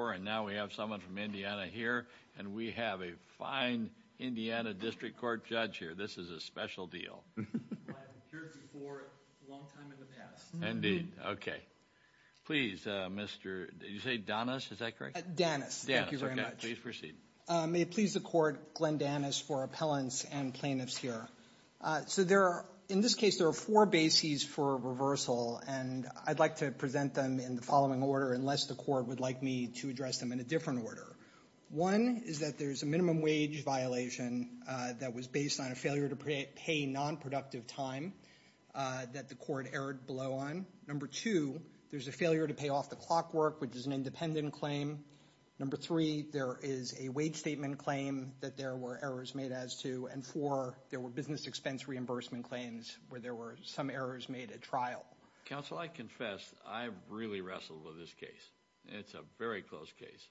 And now we have someone from Indiana here, and we have a fine Indiana District Court judge here. This is a special deal. I haven't heard you for a long time in the past. Indeed. Okay. Please, Mr.... Did you say Danis? Is that correct? Danis. Thank you very much. Danis. Okay. Please proceed. May it please the Court, Glenn Danis for appellants and plaintiffs here. So there are, in this case, there are four bases for reversal. And I'd like to present them in the following order, unless the Court would like me to address them in a different order. One is that there's a minimum wage violation that was based on a failure to pay nonproductive time that the Court erred below on. Number two, there's a failure to pay off the clockwork, which is an independent claim. Number three, there is a wage statement claim that there were errors made as to. And four, there were business expense reimbursement claims where there were some errors made at trial. Counsel, I confess, I really wrestled with this case. It's a very close case.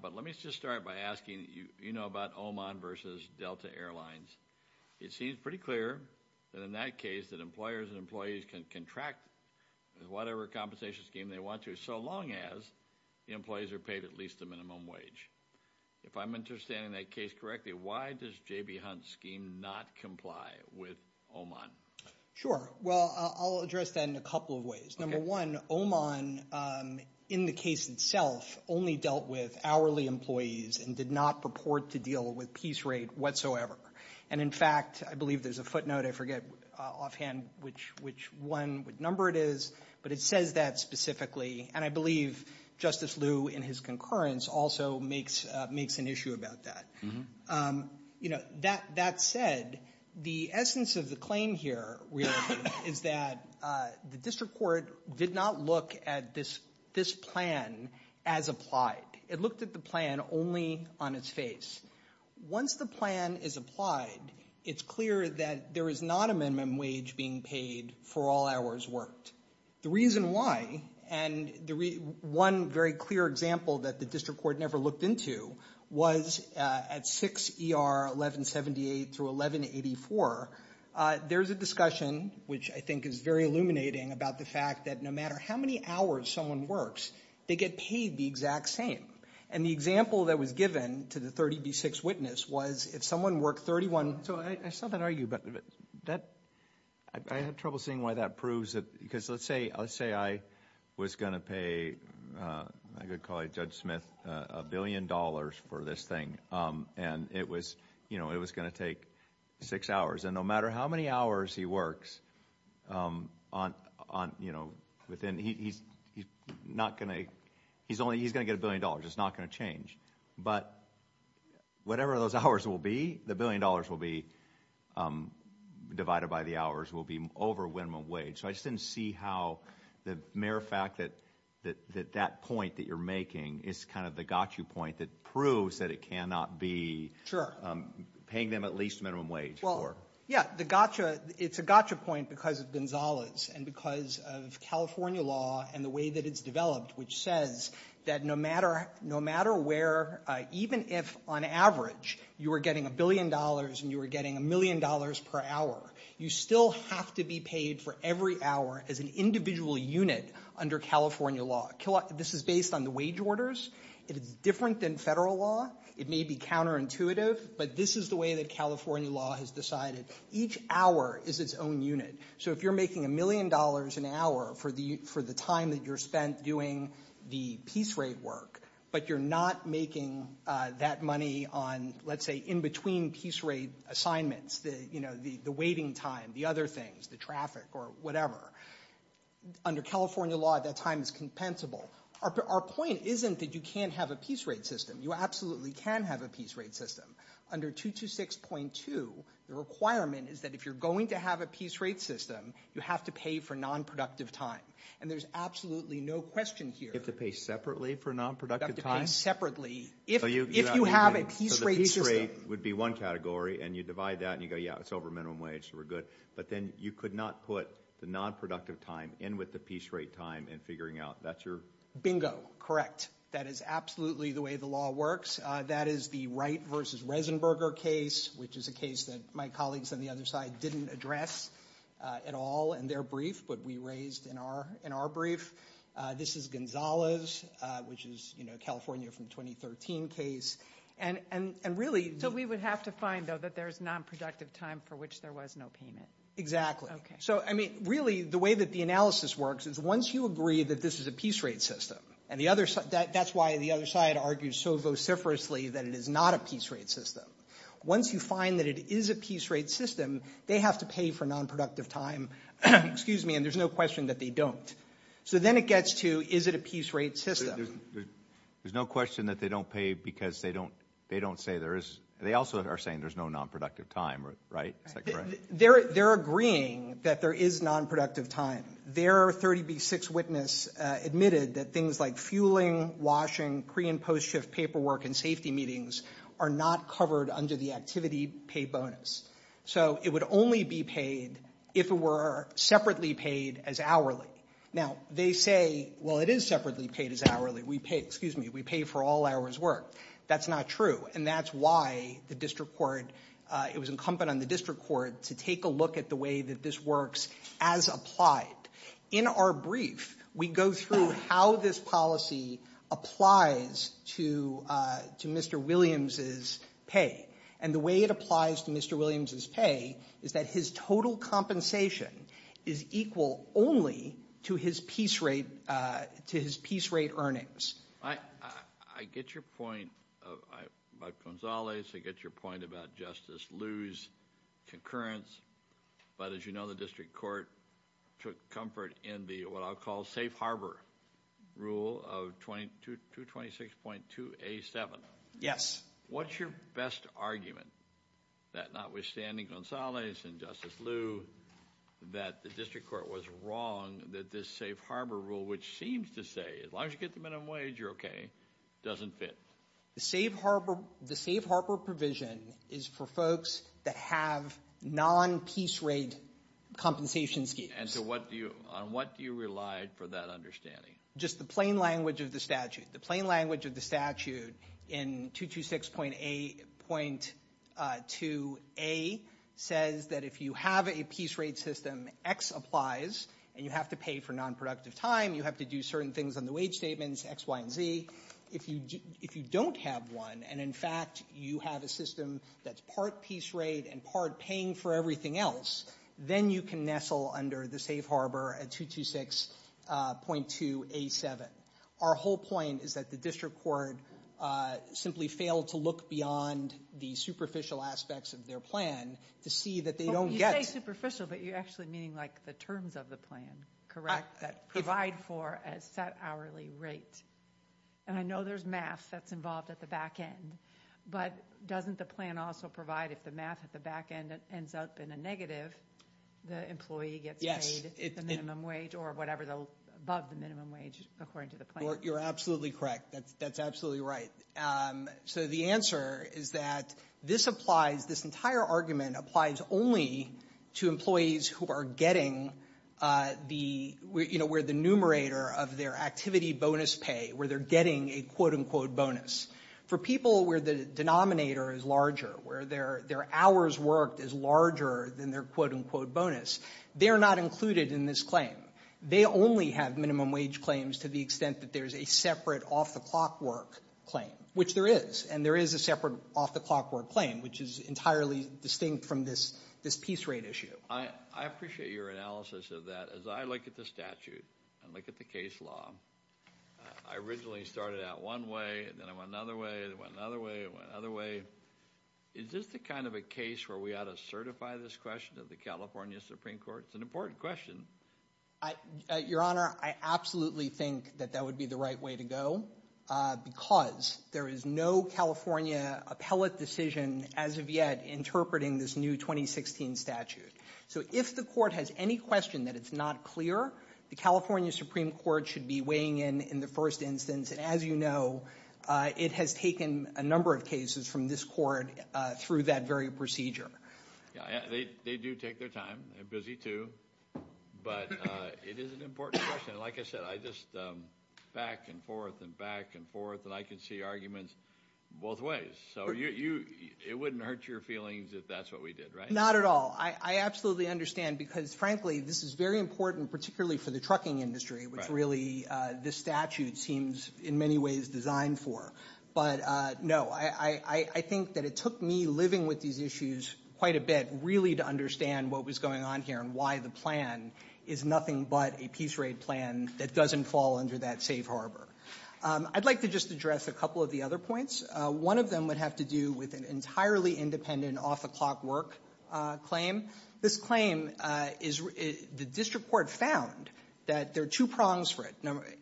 But let me just start by asking, you know about Oman versus Delta Airlines. It seems pretty clear that in that case, that employers and employees can contract whatever compensation scheme they want to, so long as the employees are paid at least a minimum wage. If I'm understanding that case correctly, why does J.B. Hunt's scheme not comply with Oman? Sure. Well, I'll address that in a couple of ways. Number one, Oman, in the case itself, only dealt with hourly employees and did not purport to deal with piece rate whatsoever. And in fact, I believe there's a footnote. I forget offhand which one number it is. But it says that specifically. And I believe Justice Liu in his concurrence also makes an issue about that. That said, the essence of the claim here is that the district court did not look at this plan as applied. It looked at the plan only on its face. Once the plan is applied, it's clear that there is not a minimum wage being paid for all hours worked. The reason why, and one very clear example that the district court never looked into, was at 6 ER 1178 through 1184. There's a discussion, which I think is very illuminating, about the fact that no matter how many hours someone works, they get paid the exact same. And the example that was given to the 30B6 witness was if someone worked 31— So I saw that argue, but I have trouble seeing why that proves it. Because let's say I was going to pay, I could call you Judge Smith, a billion dollars for this thing. And it was going to take six hours. And no matter how many hours he works, he's going to get a billion dollars. It's not going to change. But whatever those hours will be, the billion dollars will be divided by the hours, will be over minimum wage. So I just didn't see how the mere fact that that point that you're making is kind of the gotcha point that proves that it cannot be paying them at least minimum wage. Yeah, it's a gotcha point because of Gonzalez and because of California law and the way that it's developed, which says that no matter where, even if on average you were getting a billion dollars and you were getting a million dollars per hour, you still have to be paid for every hour as an individual unit under California law. This is based on the wage orders. It is different than federal law. It may be counterintuitive, but this is the way that California law has decided. Each hour is its own unit. So if you're making a million dollars an hour for the time that you're spent doing the piece rate work, but you're not making that money on, let's say, in between piece rate assignments, the waiting time, the other things, the traffic or whatever. Under California law, that time is compensable. Our point isn't that you can't have a piece rate system. You absolutely can have a piece rate system. Under 226.2, the requirement is that if you're going to have a piece rate system, you have to pay for nonproductive time. And there's absolutely no question here. You have to pay separately for nonproductive time? You have to pay separately if you have a piece rate system. So the piece rate would be one category and you divide that and you go, yeah, it's over minimum wage, so we're good. But then you could not put the nonproductive time in with the piece rate time in figuring out. Bingo. Correct. That is absolutely the way the law works. That is the Wright v. Resenberger case, which is a case that my colleagues on the other side didn't address at all in their brief, but we raised in our brief. This is Gonzales, which is a California from 2013 case. And really- So we would have to find, though, that there's nonproductive time for which there was no payment. Exactly. So, I mean, really, the way that the analysis works is once you agree that this is a piece rate system and that's why the other side argues so vociferously that it is not a piece rate system. Once you find that it is a piece rate system, they have to pay for nonproductive time. Excuse me, and there's no question that they don't. So then it gets to, is it a piece rate system? There's no question that they don't pay because they don't say there is. They also are saying there's no nonproductive time, right? Is that correct? They're agreeing that there is nonproductive time. Their 30B6 witness admitted that things like fueling, washing, pre- and post-shift paperwork, and safety meetings are not covered under the activity pay bonus. So it would only be paid if it were separately paid as hourly. Now, they say, well, it is separately paid as hourly. We pay, excuse me, we pay for all hours worked. That's not true, and that's why the district court, it was incumbent on the district court to take a look at the way that this works as applied. In our brief, we go through how this policy applies to Mr. Williams' pay. And the way it applies to Mr. Williams' pay is that his total compensation is equal only to his piece rate earnings. I get your point about Gonzalez. I get your point about Justice Liu's concurrence. But as you know, the district court took comfort in the, what I'll call, safe harbor rule of 226.2A7. Yes. What's your best argument that notwithstanding Gonzalez and Justice Liu, that the district court was wrong that this safe harbor rule, which seems to say, as long as you get the minimum wage, you're okay, doesn't fit? The safe harbor provision is for folks that have non-piece rate compensation schemes. And so what do you, on what do you rely for that understanding? Just the plain language of the statute. The plain language of the statute in 226.2A says that if you have a piece rate system, X applies, and you have to pay for non-productive time, you have to do certain things on the wage statements, X, Y, and Z. If you don't have one, and in fact you have a system that's part piece rate and part paying for everything else, then you can nestle under the safe harbor at 226.2A7. Our whole point is that the district court simply failed to look beyond the superficial aspects of their plan to see that they don't get it. You say superficial, but you're actually meaning like the terms of the plan, correct, that provide for a set hourly rate. And I know there's math that's involved at the back end, but doesn't the plan also provide if the math at the back end ends up in a negative, the employee gets paid the minimum wage or whatever above the minimum wage, according to the plan? You're absolutely correct. That's absolutely right. So the answer is that this applies, this entire argument applies only to employees who are getting the, you know, where the numerator of their activity bonus pay, where they're getting a quote-unquote bonus. For people where the denominator is larger, where their hours worked is larger than their quote-unquote bonus, they're not included in this claim. They only have minimum wage claims to the extent that there's a separate off-the-clock work claim, which there is, and there is a separate off-the-clock work claim, which is entirely distinct from this piece rate issue. I appreciate your analysis of that. As I look at the statute and look at the case law, I originally started out one way and then I went another way and went another way and went another way. Is this the kind of a case where we ought to certify this question to the California Supreme Court? It's an important question. Your Honor, I absolutely think that that would be the right way to go because there is no California appellate decision as of yet interpreting this new 2016 statute. So if the court has any question that it's not clear, the California Supreme Court should be weighing in in the first instance, and as you know, it has taken a number of cases from this court through that very procedure. They do take their time. They're busy too. But it is an important question. Like I said, I just back and forth and back and forth, and I can see arguments both ways. So it wouldn't hurt your feelings if that's what we did, right? Not at all. I absolutely understand because, frankly, this is very important, particularly for the trucking industry, which really this statute seems in many ways designed for. But, no, I think that it took me living with these issues quite a bit really to understand what was going on here and why the plan is nothing but a peace raid plan that doesn't fall under that safe harbor. I'd like to just address a couple of the other points. One of them would have to do with an entirely independent off-the-clock work claim. This claim is the district court found that there are two prongs for it.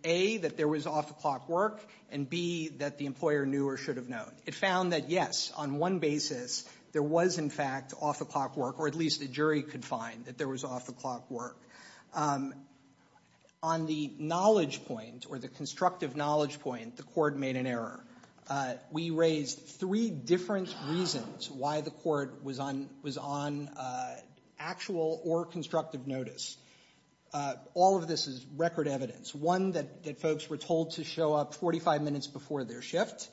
A, that there was off-the-clock work, and B, that the employer knew or should have known. It found that, yes, on one basis there was, in fact, off-the-clock work, or at least the jury could find that there was off-the-clock work. On the knowledge point or the constructive knowledge point, the court made an error. We raised three different reasons why the court was on actual or constructive notice. All of this is record evidence. One, that folks were told to show up 45 minutes before their shift.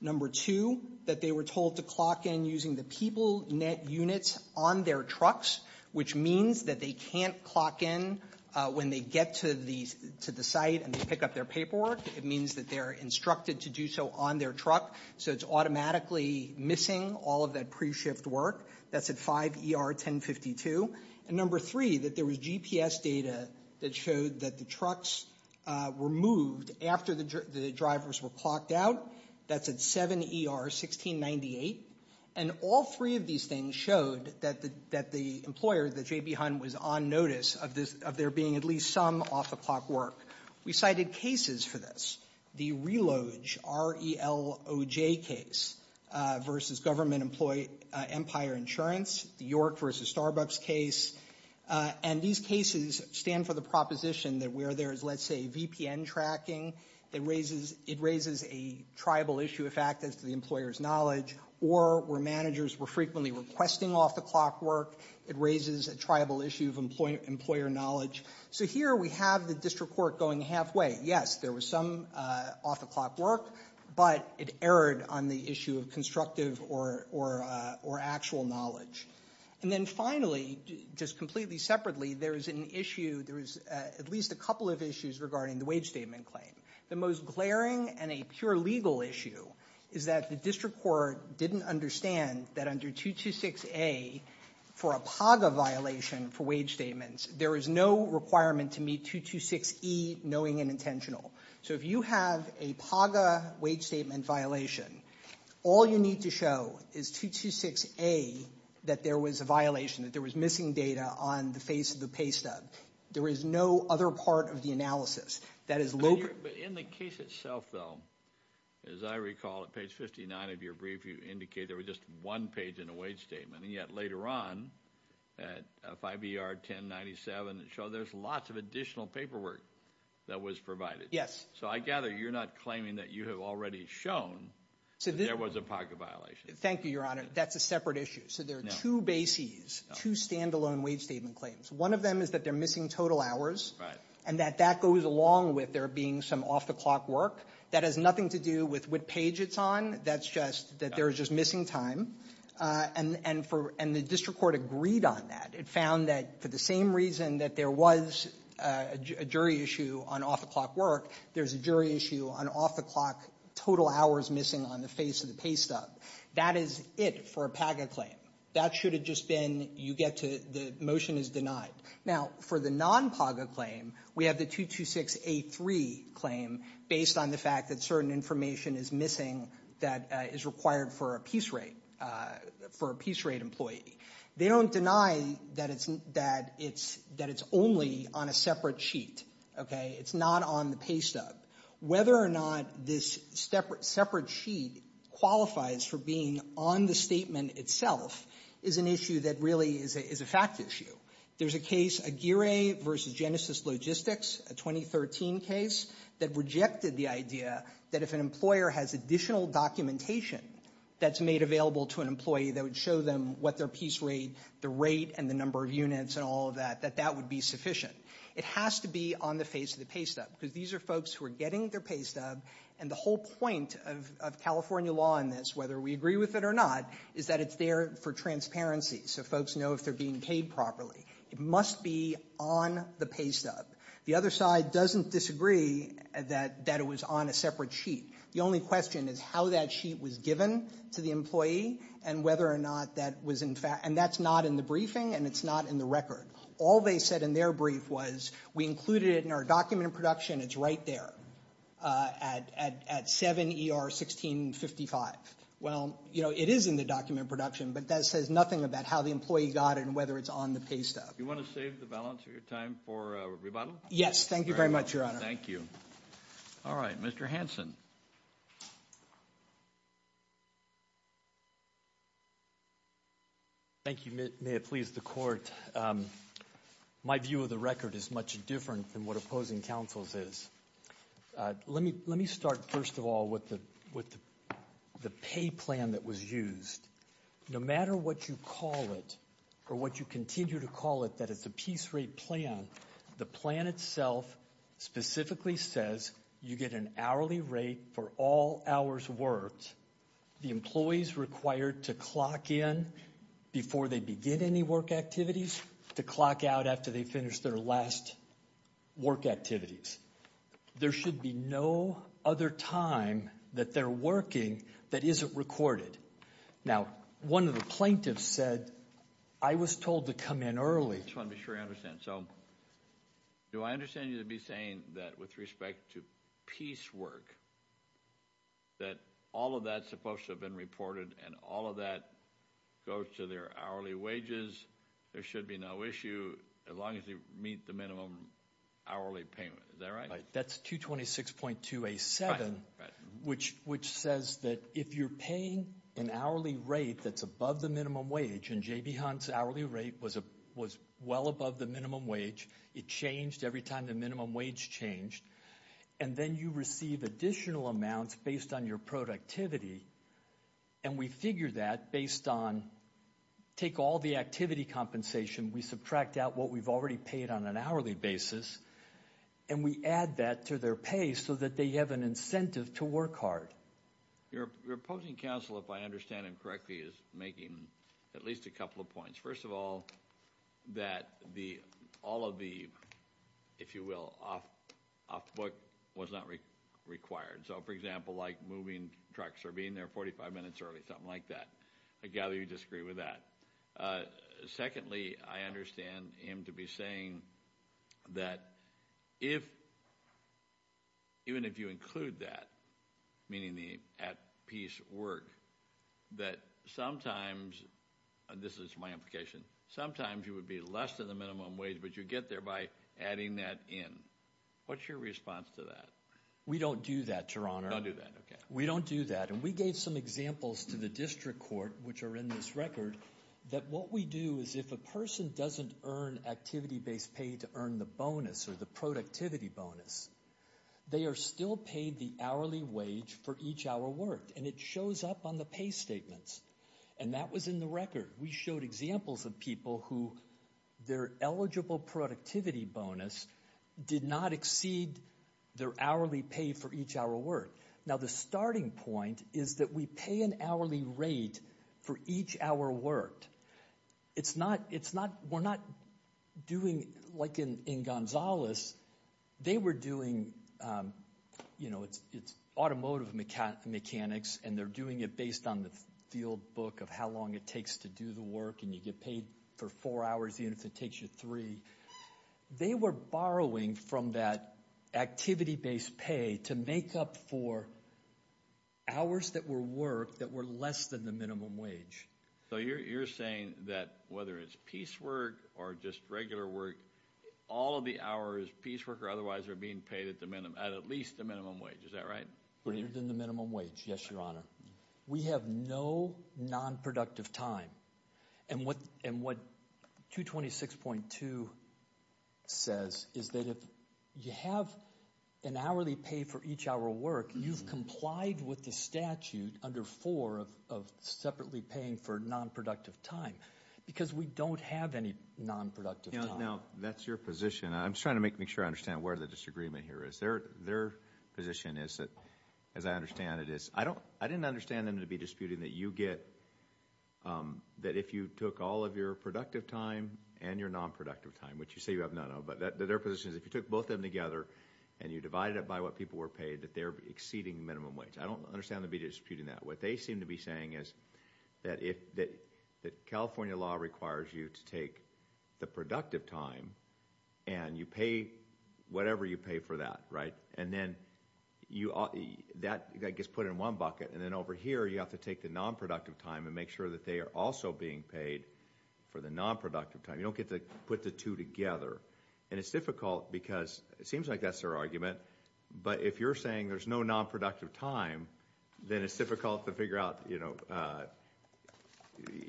Number two, that they were told to clock in using the people net units on their trucks, which means that they can't clock in when they get to the site and pick up their paperwork. It means that they're instructed to do so on their truck, so it's automatically missing all of that pre-shift work. That's at 5 ER 1052. And number three, that there was GPS data that showed that the trucks were moved after the drivers were clocked out. That's at 7 ER 1698. And all three of these things showed that the employer, the J.B. Hunt, was on notice of there being at least some off-the-clock work. We cited cases for this. The RELOJ, R-E-L-O-J case, versus Government Employee Empire Insurance. The York versus Starbucks case. And these cases stand for the proposition that where there is, let's say, VPN tracking, it raises a tribal issue, in fact, as to the employer's knowledge. Or where managers were frequently requesting off-the-clock work, it raises a tribal issue of employer knowledge. So here we have the district court going halfway. Yes, there was some off-the-clock work, but it erred on the issue of constructive or actual knowledge. And then finally, just completely separately, there is an issue, there is at least a couple of issues regarding the wage statement claim. The most glaring and a pure legal issue is that the district court didn't understand that under 226A, for a PAGA violation for wage statements, there is no requirement to meet 226E, knowing and intentional. So if you have a PAGA wage statement violation, all you need to show is 226A, that there was a violation, that there was missing data on the face of the pay stub. There is no other part of the analysis. But in the case itself, though, as I recall, at page 59 of your brief, you indicated there was just one page in the wage statement. And yet later on, at 5ER 1097, it showed there's lots of additional paperwork that was provided. Yes. So I gather you're not claiming that you have already shown that there was a PAGA violation. Thank you, Your Honor. That's a separate issue. So there are two bases, two standalone wage statement claims. One of them is that they're missing total hours and that that goes along with there being some off-the-clock work. That has nothing to do with what page it's on. That's just that there is just missing time. And the district court agreed on that. It found that for the same reason that there was a jury issue on off-the-clock work, there's a jury issue on off-the-clock total hours missing on the face of the pay stub. That is it for a PAGA claim. That should have just been you get to the motion is denied. Now, for the non-PAGA claim, we have the 226A3 claim, based on the fact that certain information is missing that is required for a piece rate employee. They don't deny that it's only on a separate sheet. It's not on the pay stub. Whether or not this separate sheet qualifies for being on the statement itself is an issue that really is a fact issue. There's a case, Aguirre v. Genesis Logistics, a 2013 case, that rejected the idea that if an employer has additional documentation that's made available to an employee that would show them what their piece rate, the rate and the number of units and all of that, that that would be sufficient. It has to be on the face of the pay stub because these are folks who are getting their pay stub, and the whole point of California law in this, whether we agree with it or not, is that it's there for transparency so folks know if they're being paid properly. It must be on the pay stub. The other side doesn't disagree that it was on a separate sheet. The only question is how that sheet was given to the employee and whether or not that was in fact, and that's not in the briefing and it's not in the record. All they said in their brief was we included it in our document of production. It's right there at 7 ER 1655. Well, you know, it is in the document of production, but that says nothing about how the employee got it and whether it's on the pay stub. You want to save the balance of your time for a rebuttal? Yes, thank you very much, Your Honor. Thank you. All right, Mr. Hanson. Thank you. May it please the Court. My view of the record is much different than what opposing counsel's is. Let me start, first of all, with the pay plan that was used. No matter what you call it or what you continue to call it, that it's a piece rate plan, the plan itself specifically says you get an hourly rate for all hours worked. The employees required to clock in before they begin any work activities to clock out after they finish their last work activities. There should be no other time that they're working that isn't recorded. Now, one of the plaintiffs said I was told to come in early. I just want to be sure I understand. So do I understand you to be saying that with respect to piece work, that all of that is supposed to have been reported and all of that goes to their hourly wages? There should be no issue as long as they meet the minimum hourly payment. Is that right? That's 226.2A7, which says that if you're paying an hourly rate that's above the minimum wage, and J.B. Hunt's hourly rate was well above the minimum wage, it changed every time the minimum wage changed, and then you receive additional amounts based on your productivity, and we figure that based on take all the activity compensation, we subtract out what we've already paid on an hourly basis, and we add that to their pay so that they have an incentive to work hard. Your opposing counsel, if I understand him correctly, is making at least a couple of points. First of all, that all of the, if you will, off the book was not required. So, for example, like moving trucks or being there 45 minutes early, something like that. I gather you disagree with that. Secondly, I understand him to be saying that even if you include that, meaning the at-piece work, that sometimes, and this is my implication, sometimes you would be less than the minimum wage, but you get there by adding that in. What's your response to that? We don't do that, Your Honor. You don't do that, okay. We don't do that, and we gave some examples to the district court, which are in this record, that what we do is if a person doesn't earn activity-based pay to earn the bonus or the productivity bonus, they are still paid the hourly wage for each hour worked, and it shows up on the pay statements, and that was in the record. We showed examples of people who their eligible productivity bonus did not exceed their hourly pay for each hour worked. Now, the starting point is that we pay an hourly rate for each hour worked. We're not doing like in Gonzales. They were doing, you know, it's automotive mechanics, and they're doing it based on the field book of how long it takes to do the work, and you get paid for four hours even if it takes you three. They were borrowing from that activity-based pay to make up for hours that were worked that were less than the minimum wage. So you're saying that whether it's piecework or just regular work, all of the hours, piecework or otherwise, are being paid at at least the minimum wage. Is that right? Greater than the minimum wage, yes, Your Honor. We have no nonproductive time, and what 226.2 says is that if you have an hourly pay for each hour worked, you've complied with the statute under 4 of separately paying for nonproductive time because we don't have any nonproductive time. Now, that's your position. I'm just trying to make sure I understand where the disagreement here is. Their position is that, as I understand it, I didn't understand them to be disputing that you get, that if you took all of your productive time and your nonproductive time, which you say you have none of, but their position is if you took both of them together and you divided it by what people were paid, that they're exceeding minimum wage. I don't understand them to be disputing that. What they seem to be saying is that California law requires you to take the productive time and you pay whatever you pay for that, right? And then that gets put in one bucket, and then over here you have to take the nonproductive time and make sure that they are also being paid for the nonproductive time. You don't get to put the two together, and it's difficult because it seems like that's their argument, but if you're saying there's no nonproductive time, then it's difficult to figure out, you know,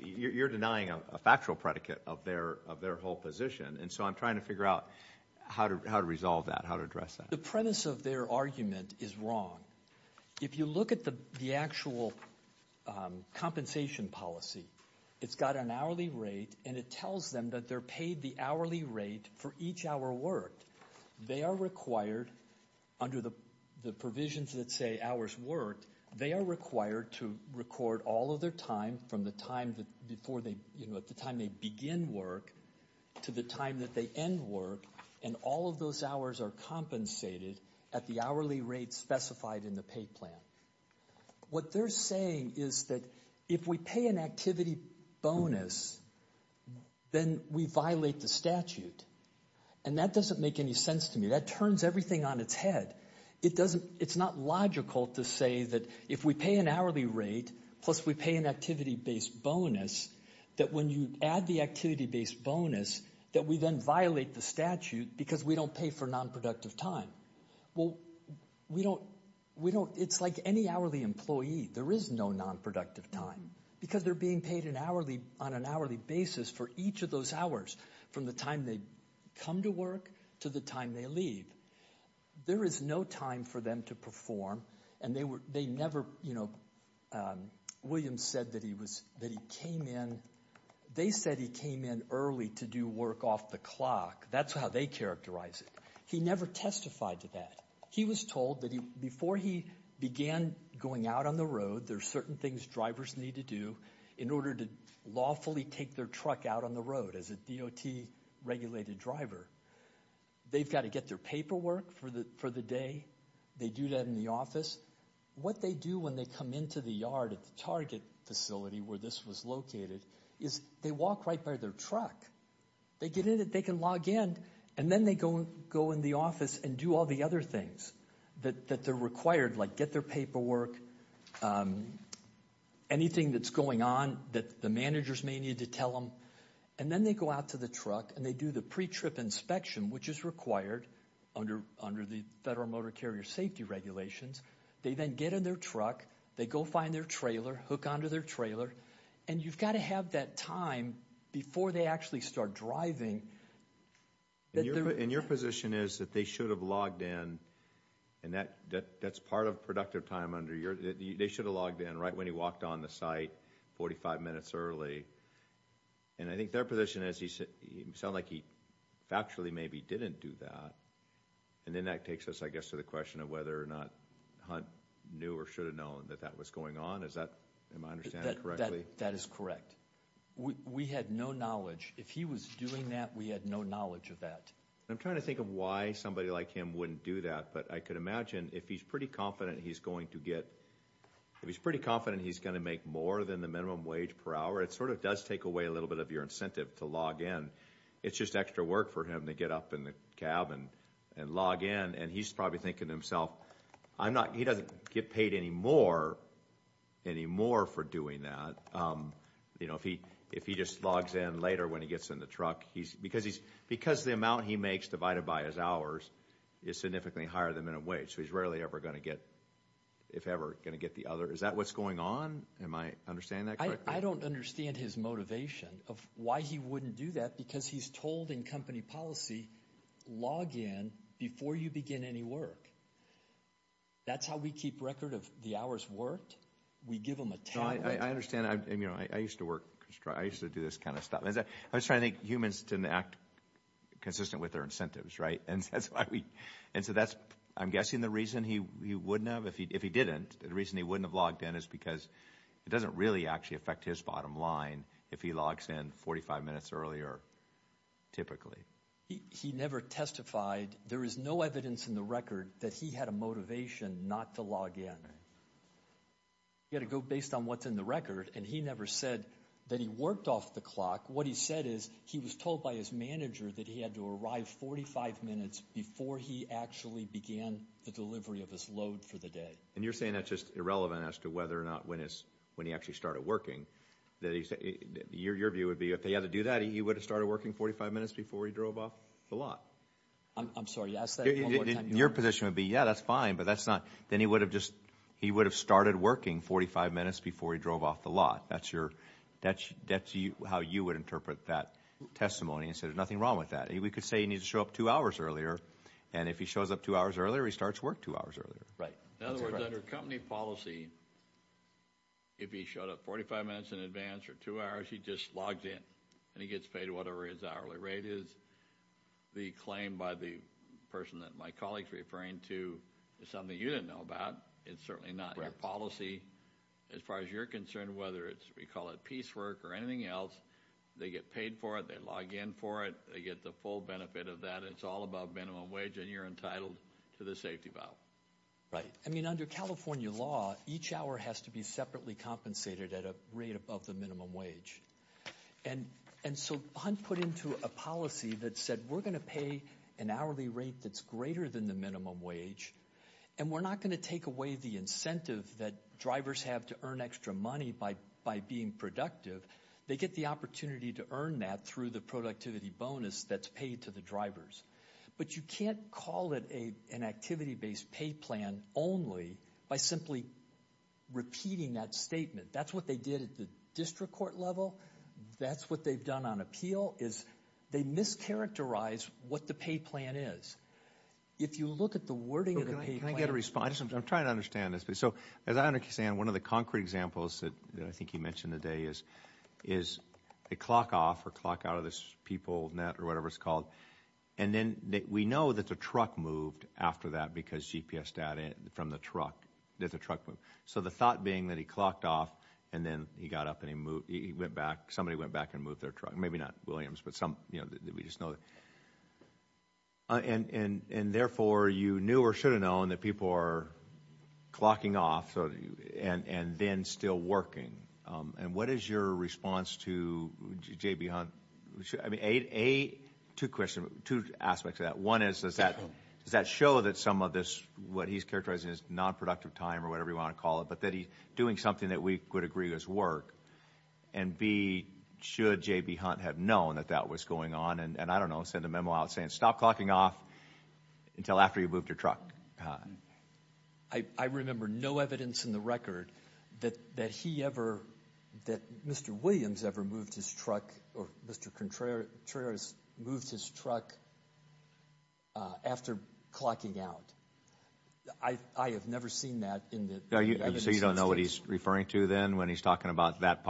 you're denying a factual predicate of their whole position. And so I'm trying to figure out how to resolve that, how to address that. The premise of their argument is wrong. If you look at the actual compensation policy, it's got an hourly rate, and it tells them that they're paid the hourly rate for each hour worked. They are required under the provisions that say hours worked, they are required to record all of their time from the time that before they, you know, at the time they begin work to the time that they end work, and all of those hours are compensated at the hourly rate specified in the pay plan. What they're saying is that if we pay an activity bonus, then we violate the statute, and that doesn't make any sense to me. That turns everything on its head. It's not logical to say that if we pay an hourly rate plus we pay an activity-based bonus, that when you add the activity-based bonus that we then violate the statute because we don't pay for nonproductive time. Well, it's like any hourly employee. There is no nonproductive time because they're being paid on an hourly basis for each of those hours from the time they come to work to the time they leave. There is no time for them to perform, and they never, you know, William said that he came in early to do work off the clock. That's how they characterize it. He never testified to that. He was told that before he began going out on the road, there are certain things drivers need to do in order to lawfully take their truck out on the road. As a DOT-regulated driver, they've got to get their paperwork for the day. They do that in the office. What they do when they come into the yard at the target facility where this was located is they walk right by their truck. They get in it. They can log in, and then they go in the office and do all the other things that they're required, like get their paperwork, anything that's going on that the managers may need to tell them, and then they go out to the truck and they do the pre-trip inspection, which is required under the Federal Motor Carrier Safety Regulations. They then get in their truck. They go find their trailer, hook onto their trailer, and you've got to have that time before they actually start driving. And your position is that they should have logged in, and that's part of productive time under your – they should have logged in right when he walked on the site 45 minutes early. And I think their position is he sounded like he factually maybe didn't do that, and then that takes us, I guess, to the question of whether or not Hunt knew or should have known that that was going on. Am I understanding correctly? That is correct. We had no knowledge. If he was doing that, we had no knowledge of that. I'm trying to think of why somebody like him wouldn't do that, but I could imagine if he's pretty confident he's going to get – if he's pretty confident he's going to make more than the minimum wage per hour, it sort of does take away a little bit of your incentive to log in. It's just extra work for him to get up in the cab and log in, and he's probably thinking to himself, he doesn't get paid any more for doing that if he just logs in later when he gets in the truck. Because the amount he makes divided by his hours is significantly higher than the minimum wage, so he's rarely ever going to get – if ever going to get the other. Is that what's going on? Am I understanding that correctly? I don't understand his motivation of why he wouldn't do that because he's told in company policy log in before you begin any work. That's how we keep record of the hours worked. We give them a tablet. I understand. I used to work – I used to do this kind of stuff. I was trying to make humans to act consistent with their incentives, right? And so that's – I'm guessing the reason he wouldn't have, if he didn't, the reason he wouldn't have logged in is because it doesn't really actually affect his bottom line if he logs in 45 minutes earlier typically. He never testified. There is no evidence in the record that he had a motivation not to log in. He had to go based on what's in the record, and he never said that he worked off the clock. What he said is he was told by his manager that he had to arrive 45 minutes before he actually began the delivery of his load for the day. And you're saying that's just irrelevant as to whether or not when he actually started working. Your view would be if he had to do that, he would have started working 45 minutes before he drove off the lot. I'm sorry. Ask that one more time. Your position would be, yeah, that's fine, but that's not – then he would have just – he would have started working 45 minutes before he drove off the lot. That's your – that's how you would interpret that testimony and say there's nothing wrong with that. We could say he needs to show up two hours earlier, and if he shows up two hours earlier, he starts work two hours earlier. Right. In other words, under company policy, if he showed up 45 minutes in advance or two hours, he just logs in and he gets paid whatever his hourly rate is. The claim by the person that my colleague is referring to is something you didn't know about. It's certainly not your policy. As far as you're concerned, whether it's – we call it piecework or anything else, they get paid for it, they log in for it, they get the full benefit of that. It's all above minimum wage, and you're entitled to the safety valve. Right. I mean, under California law, each hour has to be separately compensated at a rate above the minimum wage. And so Hunt put into a policy that said we're going to pay an hourly rate that's greater than the minimum wage, and we're not going to take away the incentive that drivers have to earn extra money by being productive. They get the opportunity to earn that through the productivity bonus that's paid to the drivers. But you can't call it an activity-based pay plan only by simply repeating that statement. That's what they did at the district court level. That's what they've done on appeal is they mischaracterize what the pay plan is. If you look at the wording of the pay plan. Can I get a response? I'm trying to understand this. So as I understand, one of the concrete examples that I think you mentioned today is a clock off or clock out of this people net or whatever it's called, and then we know that the truck moved after that because GPS data from the truck, that the truck moved. So the thought being that he clocked off and then he got up and he went back. Somebody went back and moved their truck. Maybe not Williams, but we just know that. And therefore, you knew or should have known that people are clocking off and then still working. And what is your response to J.B. Hunt? Two aspects of that. One is, does that show that some of this, what he's characterizing as nonproductive time or whatever you want to call it, but that he's doing something that we could agree does work? And B, should J.B. Hunt have known that that was going on? And I don't know, send a memo out saying stop clocking off until after you moved your truck. I remember no evidence in the record that he ever, that Mr. Williams ever moved his truck or Mr. Contreras moved his truck after clocking out. I have never seen that in the evidence. So you don't know what he's referring to then when he's talking about that,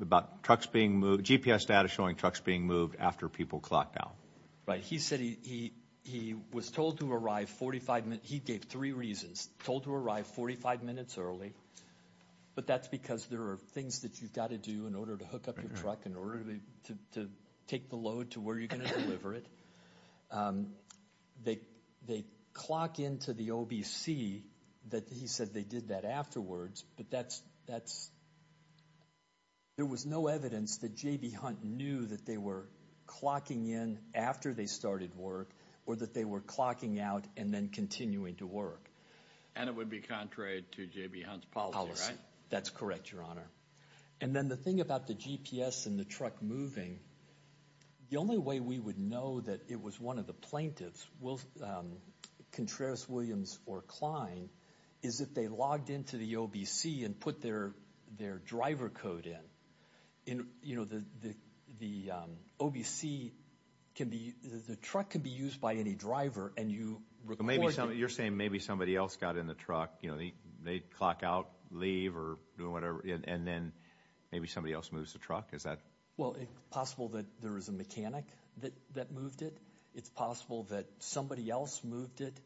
about trucks being moved, GPS data showing trucks being moved after people clocked out. Right. He said he was told to arrive 45 minutes, he gave three reasons. Told to arrive 45 minutes early, but that's because there are things that you've got to do in order to hook up your truck, in order to take the load to where you're going to deliver it. They clock into the OBC that he said they did that afterwards, but that's, there was no evidence that J.B. Hunt knew that they were clocking in after they started work or that they were clocking out and then continuing to work. And it would be contrary to J.B. Hunt's policy, right? Policy. That's correct, Your Honor. And then the thing about the GPS and the truck moving, the only way we would know that it was one of the plaintiffs, Contreras, Williams, or Kline, is if they logged into the OBC and put their driver code in. In, you know, the OBC can be, the truck can be used by any driver and you record... You're saying maybe somebody else got in the truck, you know, they clock out, leave, or do whatever, and then maybe somebody else moves the truck? Is that... Well, it's possible that there was a mechanic that moved it. It's possible that somebody else moved it,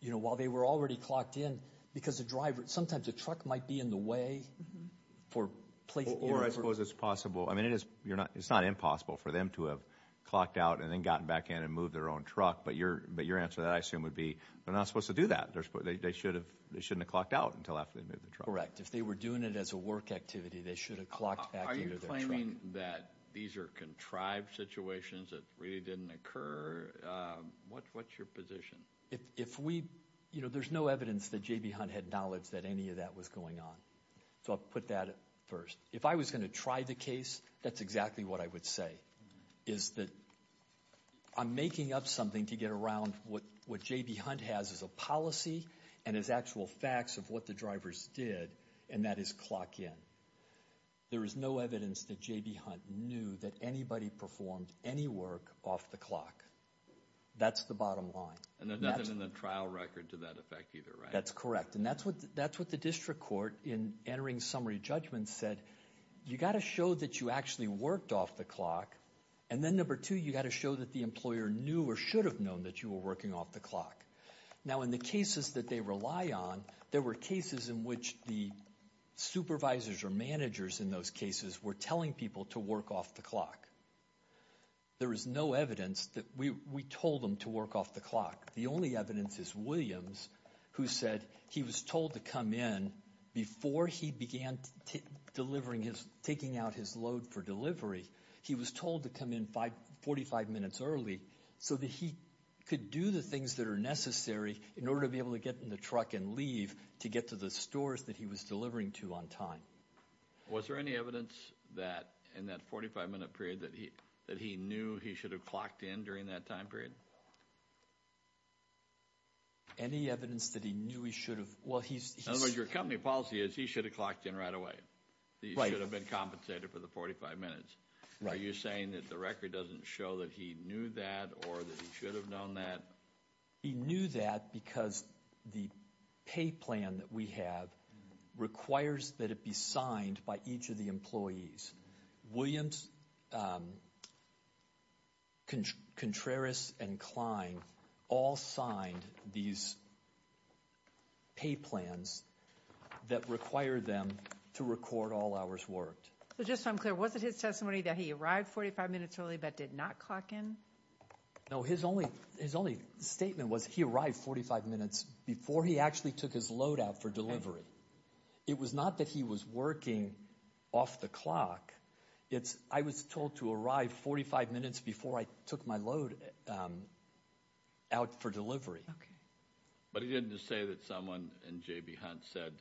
you know, while they were already clocked in, because the driver, sometimes the truck might be in the way for... Or I suppose it's possible, I mean, it's not impossible for them to have clocked out and then gotten back in and moved their own truck, but your answer, I assume, would be they're not supposed to do that. They shouldn't have clocked out until after they moved the truck. Correct. If they were doing it as a work activity, they should have clocked back into their truck. Are you claiming that these are contrived situations that really didn't occur? What's your position? If we, you know, there's no evidence that J.B. Hunt had knowledge that any of that was going on, so I'll put that first. If I was going to try the case, that's exactly what I would say, is that I'm making up something to get around what J.B. Hunt has as a policy and as actual facts of what the drivers did, and that is clock in. There is no evidence that J.B. Hunt knew that anybody performed any work off the clock. That's the bottom line. And there's nothing in the trial record to that effect either, right? That's correct, and that's what the district court, in entering summary judgment, said, you've got to show that you actually worked off the clock, and then number two, you've got to show that the employer knew or should have known that you were working off the clock. Now, in the cases that they rely on, there were cases in which the supervisors or managers in those cases were telling people to work off the clock. There is no evidence that we told them to work off the clock. The only evidence is Williams, who said he was told to come in before he began taking out his load for delivery. He was told to come in 45 minutes early so that he could do the things that are necessary in order to be able to get in the truck and leave to get to the stores that he was delivering to on time. Was there any evidence in that 45-minute period that he knew he should have clocked in during that time period? Any evidence that he knew he should have? In other words, your company policy is he should have clocked in right away. He should have been compensated for the 45 minutes. Are you saying that the record doesn't show that he knew that or that he should have known that? He knew that because the pay plan that we have requires that it be signed by each of the employees. Williams, Contreras, and Klein all signed these pay plans that require them to record all hours worked. So just so I'm clear, was it his testimony that he arrived 45 minutes early but did not clock in? No, his only statement was he arrived 45 minutes before he actually took his load out for delivery. It was not that he was working off the clock. I was told to arrive 45 minutes before I took my load out for delivery. But he didn't just say that someone in J.B. Hunt said,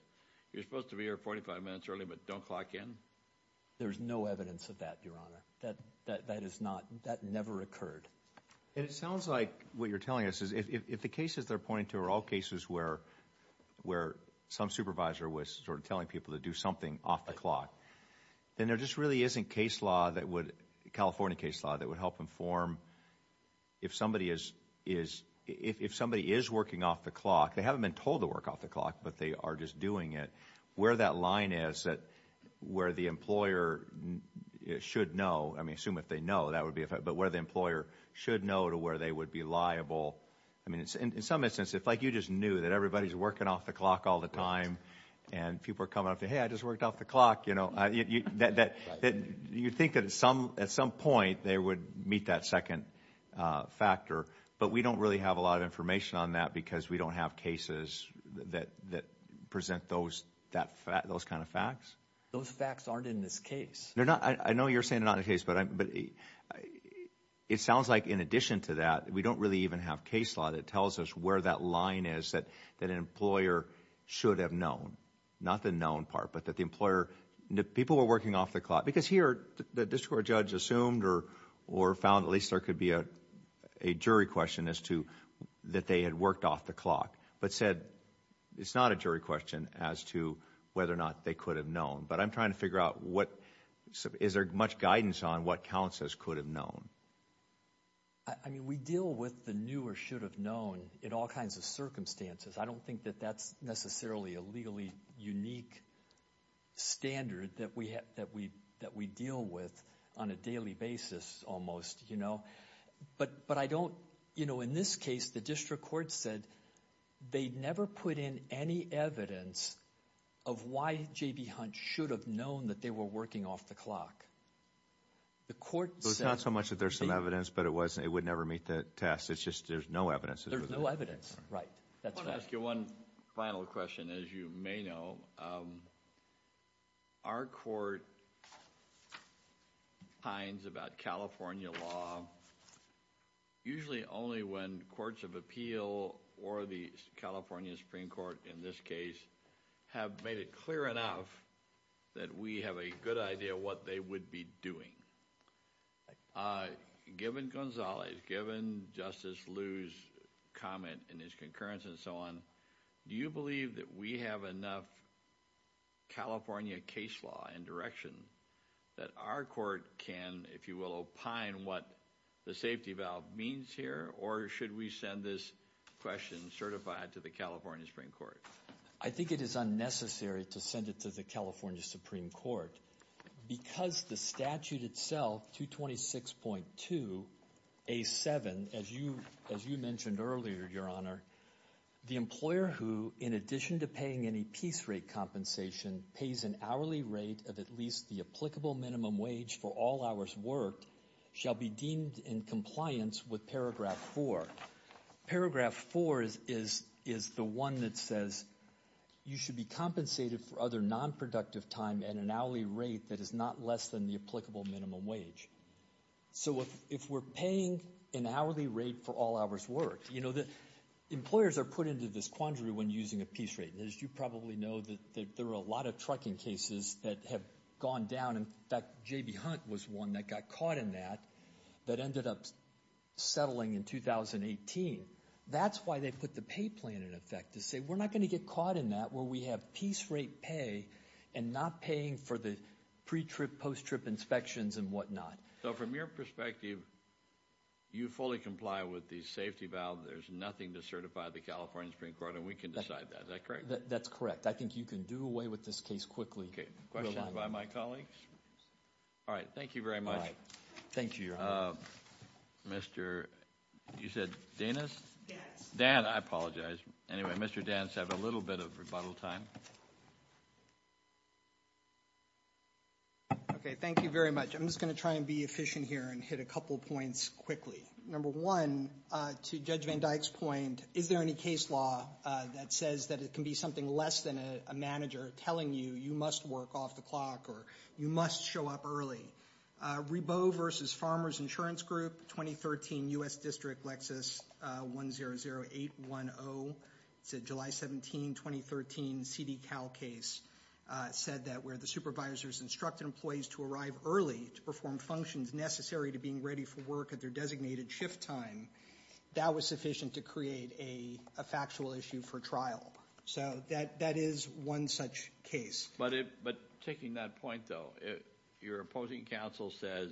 you're supposed to be here 45 minutes early but don't clock in? There's no evidence of that, Your Honor. That never occurred. And it sounds like what you're telling us is if the cases they're pointing to are all cases where some supervisor was sort of telling people to do something off the clock, then there just really isn't California case law that would help inform if somebody is working off the clock, they haven't been told to work off the clock but they are just doing it, where that line is that where the employer should know, I mean assume if they know, but where the employer should know to where they would be liable. I mean in some instance if like you just knew that everybody is working off the clock all the time and people are coming up to you, hey, I just worked off the clock, you know, you think that at some point they would meet that second factor but we don't really have a lot of information on that because we don't have cases that present those kind of facts. Those facts aren't in this case. I know you're saying they're not in this case but it sounds like in addition to that, we don't really even have case law that tells us where that line is that an employer should have known, not the known part but that the employer, people were working off the clock because here the district court judge assumed or found at least there could be a jury question as to that they had worked off the clock but said it's not a jury question as to whether or not they could have known but I'm trying to figure out what, is there much guidance on what counts as could have known? I mean we deal with the new or should have known in all kinds of circumstances. I don't think that that's necessarily a legally unique standard that we deal with on a daily basis almost, you know, but I don't, you know, in this case the district court said they never put in any evidence of why J.B. Hunt should have known that they were working off the clock. The court said... It's not so much that there's some evidence but it was, it would never meet that test. It's just there's no evidence. There's no evidence, right. I want to ask you one final question as you may know. Our court finds about California law usually only when courts of appeal or the California Supreme Court in this case have made it clear enough that we have a good idea what they would be doing. Given Gonzalez, given Justice Liu's comment in his concurrence and so on, do you believe that we have enough California case law and direction that our court can, if you will, opine what the safety valve means here or should we send this question certified to the California Supreme Court? I think it is unnecessary to send it to the California Supreme Court because the statute itself, 226.2A7, as you mentioned earlier, Your Honor, the employer who in addition to paying any piece rate compensation pays an hourly rate of at least the applicable minimum wage for all hours worked shall be deemed in compliance with Paragraph 4. Paragraph 4 is the one that says you should be compensated for other nonproductive time at an hourly rate that is not less than the applicable minimum wage. So if we're paying an hourly rate for all hours worked, employers are put into this quandary when using a piece rate. As you probably know, there are a lot of trucking cases that have gone down. In fact, J.B. Hunt was one that got caught in that that ended up settling in 2018. That's why they put the pay plan in effect to say we're not going to get caught in that where we have piece rate pay and not paying for the pre-trip, post-trip inspections and whatnot. So from your perspective, you fully comply with the safety valve. There's nothing to certify the California Supreme Court, and we can decide that. Is that correct? That's correct. I think you can do away with this case quickly. Okay. Questions by my colleagues? All right. Thank you very much. Thank you, Your Honor. Mr. – you said Danis? Danis. Danis. I apologize. Anyway, Mr. Danis had a little bit of rebuttal time. Okay. Thank you very much. I'm just going to try and be efficient here and hit a couple points quickly. Number one, to Judge Van Dyke's point, is there any case law that says that it can be something less than a manager telling you you must work off the clock or you must show up early? Reboe v. Farmers Insurance Group, 2013, U.S. District, Lexis, 100810. It's a July 17, 2013, CD-Cal case. It said that where the supervisors instructed employees to arrive early to perform functions necessary to being ready for work at their designated shift time, that was sufficient to create a factual issue for trial. So that is one such case. But taking that point, though, your opposing counsel says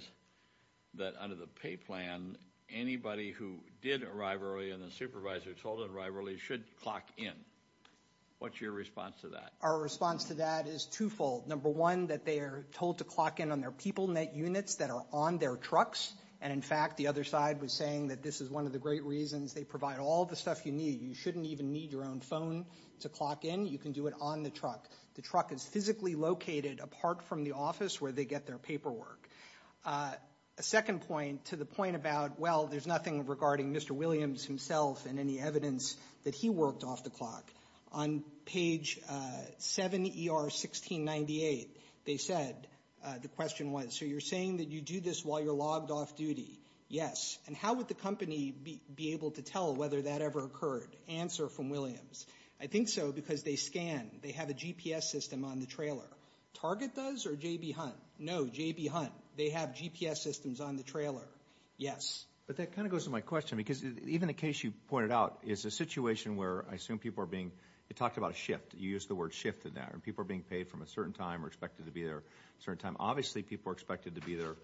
that under the pay plan, anybody who did arrive early and the supervisor told them to arrive early should clock in. What's your response to that? Our response to that is twofold. Number one, that they are told to clock in on their PeopleNet units that are on their trucks. And, in fact, the other side was saying that this is one of the great reasons they provide all the stuff you need. You shouldn't even need your own phone to clock in. You can do it on the truck. The truck is physically located apart from the office where they get their paperwork. A second point to the point about, well, there's nothing regarding Mr. Williams himself and any evidence that he worked off the clock. On page 7, ER 1698, they said, the question was, so you're saying that you do this while you're logged off duty? Yes. And how would the company be able to tell whether that ever occurred? Answer from Williams. I think so because they scan. They have a GPS system on the trailer. Target does or J.B. Hunt? No, J.B. Hunt. They have GPS systems on the trailer. Yes. But that kind of goes to my question because even the case you pointed out is a situation where I assume people are being you talked about a shift. You used the word shift in that. And people are being paid from a certain time or expected to be there a certain time. Obviously, people are expected to be there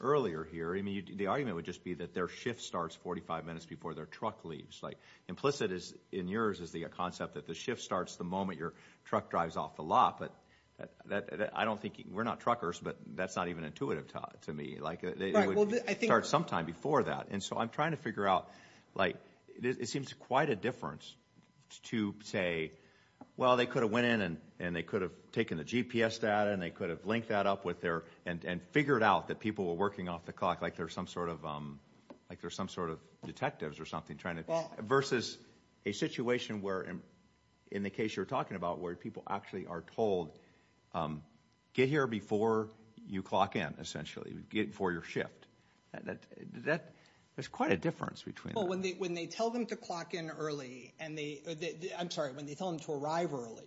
earlier here. I mean, the argument would just be that their shift starts 45 minutes before their truck leaves. Like, implicit in yours is the concept that the shift starts the moment your truck drives off the lot. But I don't think we're not truckers, but that's not even intuitive to me. Like, it would start sometime before that. And so I'm trying to figure out, like, it seems quite a difference to say, well, they could have went in and they could have taken the GPS data and they could have linked that up with their and figured out that people were working off the clock like they're some sort of detectives or something, versus a situation where, in the case you're talking about, where people actually are told, get here before you clock in, essentially, before your shift. There's quite a difference between that. Well, when they tell them to clock in early, I'm sorry, when they tell them to arrive early,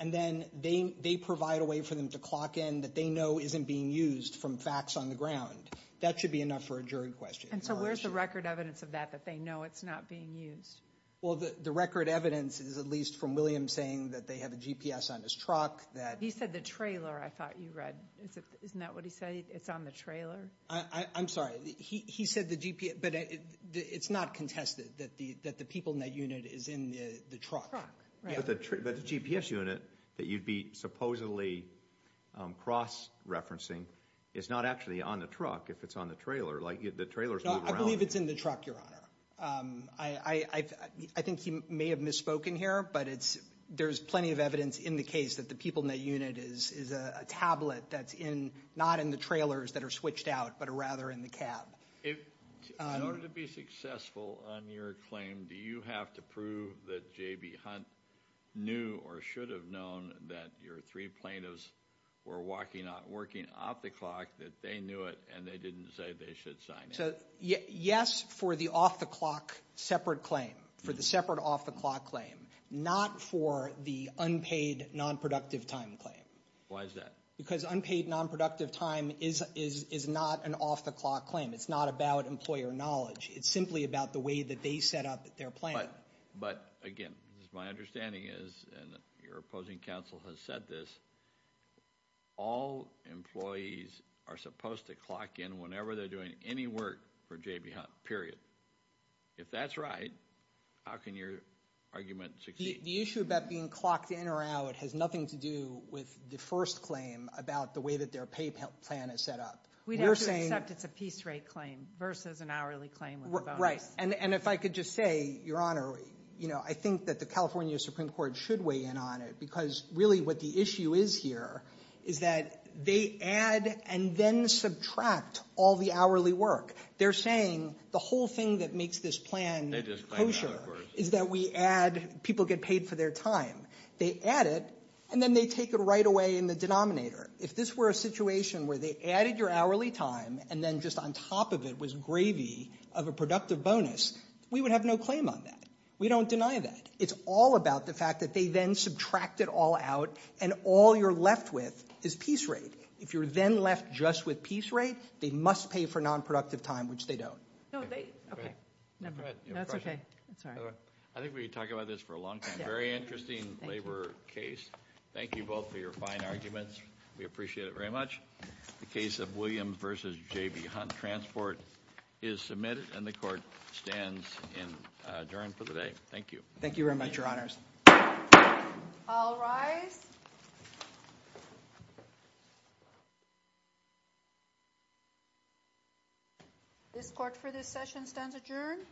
and then they provide a way for them to clock in that they know isn't being used from facts on the ground, that should be enough for a jury question. And so where's the record evidence of that, that they know it's not being used? Well, the record evidence is at least from William saying that they have a GPS on his truck. He said the trailer, I thought you read. Isn't that what he said, it's on the trailer? I'm sorry. He said the GPS, but it's not contested that the people in that unit is in the truck. But the GPS unit that you'd be supposedly cross-referencing is not actually on the truck if it's on the trailer. The trailer's moved around. I believe it's in the truck, Your Honor. I think he may have misspoken here, but there's plenty of evidence in the case that the people in that unit is a tablet that's not in the trailers that are switched out, but rather in the cab. In order to be successful on your claim, do you have to prove that J.B. Hunt knew or should have known that your three plaintiffs were working off the clock, that they knew it and they didn't say they should sign it? Yes, for the off-the-clock separate claim, for the separate off-the-clock claim, not for the unpaid nonproductive time claim. Why is that? Because unpaid nonproductive time is not an off-the-clock claim. It's not about employer knowledge. It's simply about the way that they set up their plan. But, again, my understanding is, and your opposing counsel has said this, all employees are supposed to clock in whenever they're doing any work for J.B. Hunt, period. If that's right, how can your argument succeed? The issue about being clocked in or out has nothing to do with the first claim about the way that their pay plan is set up. We'd have to accept it's a piece rate claim versus an hourly claim with a bonus. And if I could just say, Your Honor, I think that the California Supreme Court should weigh in on it because really what the issue is here is that they add and then subtract all the hourly work. They're saying the whole thing that makes this plan kosher is that we add people get paid for their time. They add it and then they take it right away in the denominator. If this were a situation where they added your hourly time and then just on top of it was gravy of a productive bonus, we would have no claim on that. We don't deny that. It's all about the fact that they then subtract it all out and all you're left with is piece rate. If you're then left just with piece rate, they must pay for nonproductive time, which they don't. No, they – okay. Never mind. That's okay. That's all right. I think we could talk about this for a long time. Very interesting labor case. Thank you both for your fine arguments. We appreciate it very much. The case of William v. J.B. Hunt Transport is submitted and the court stands adjourned for the day. Thank you. Thank you very much, Your Honors. I'll rise. This court for this session stands adjourned.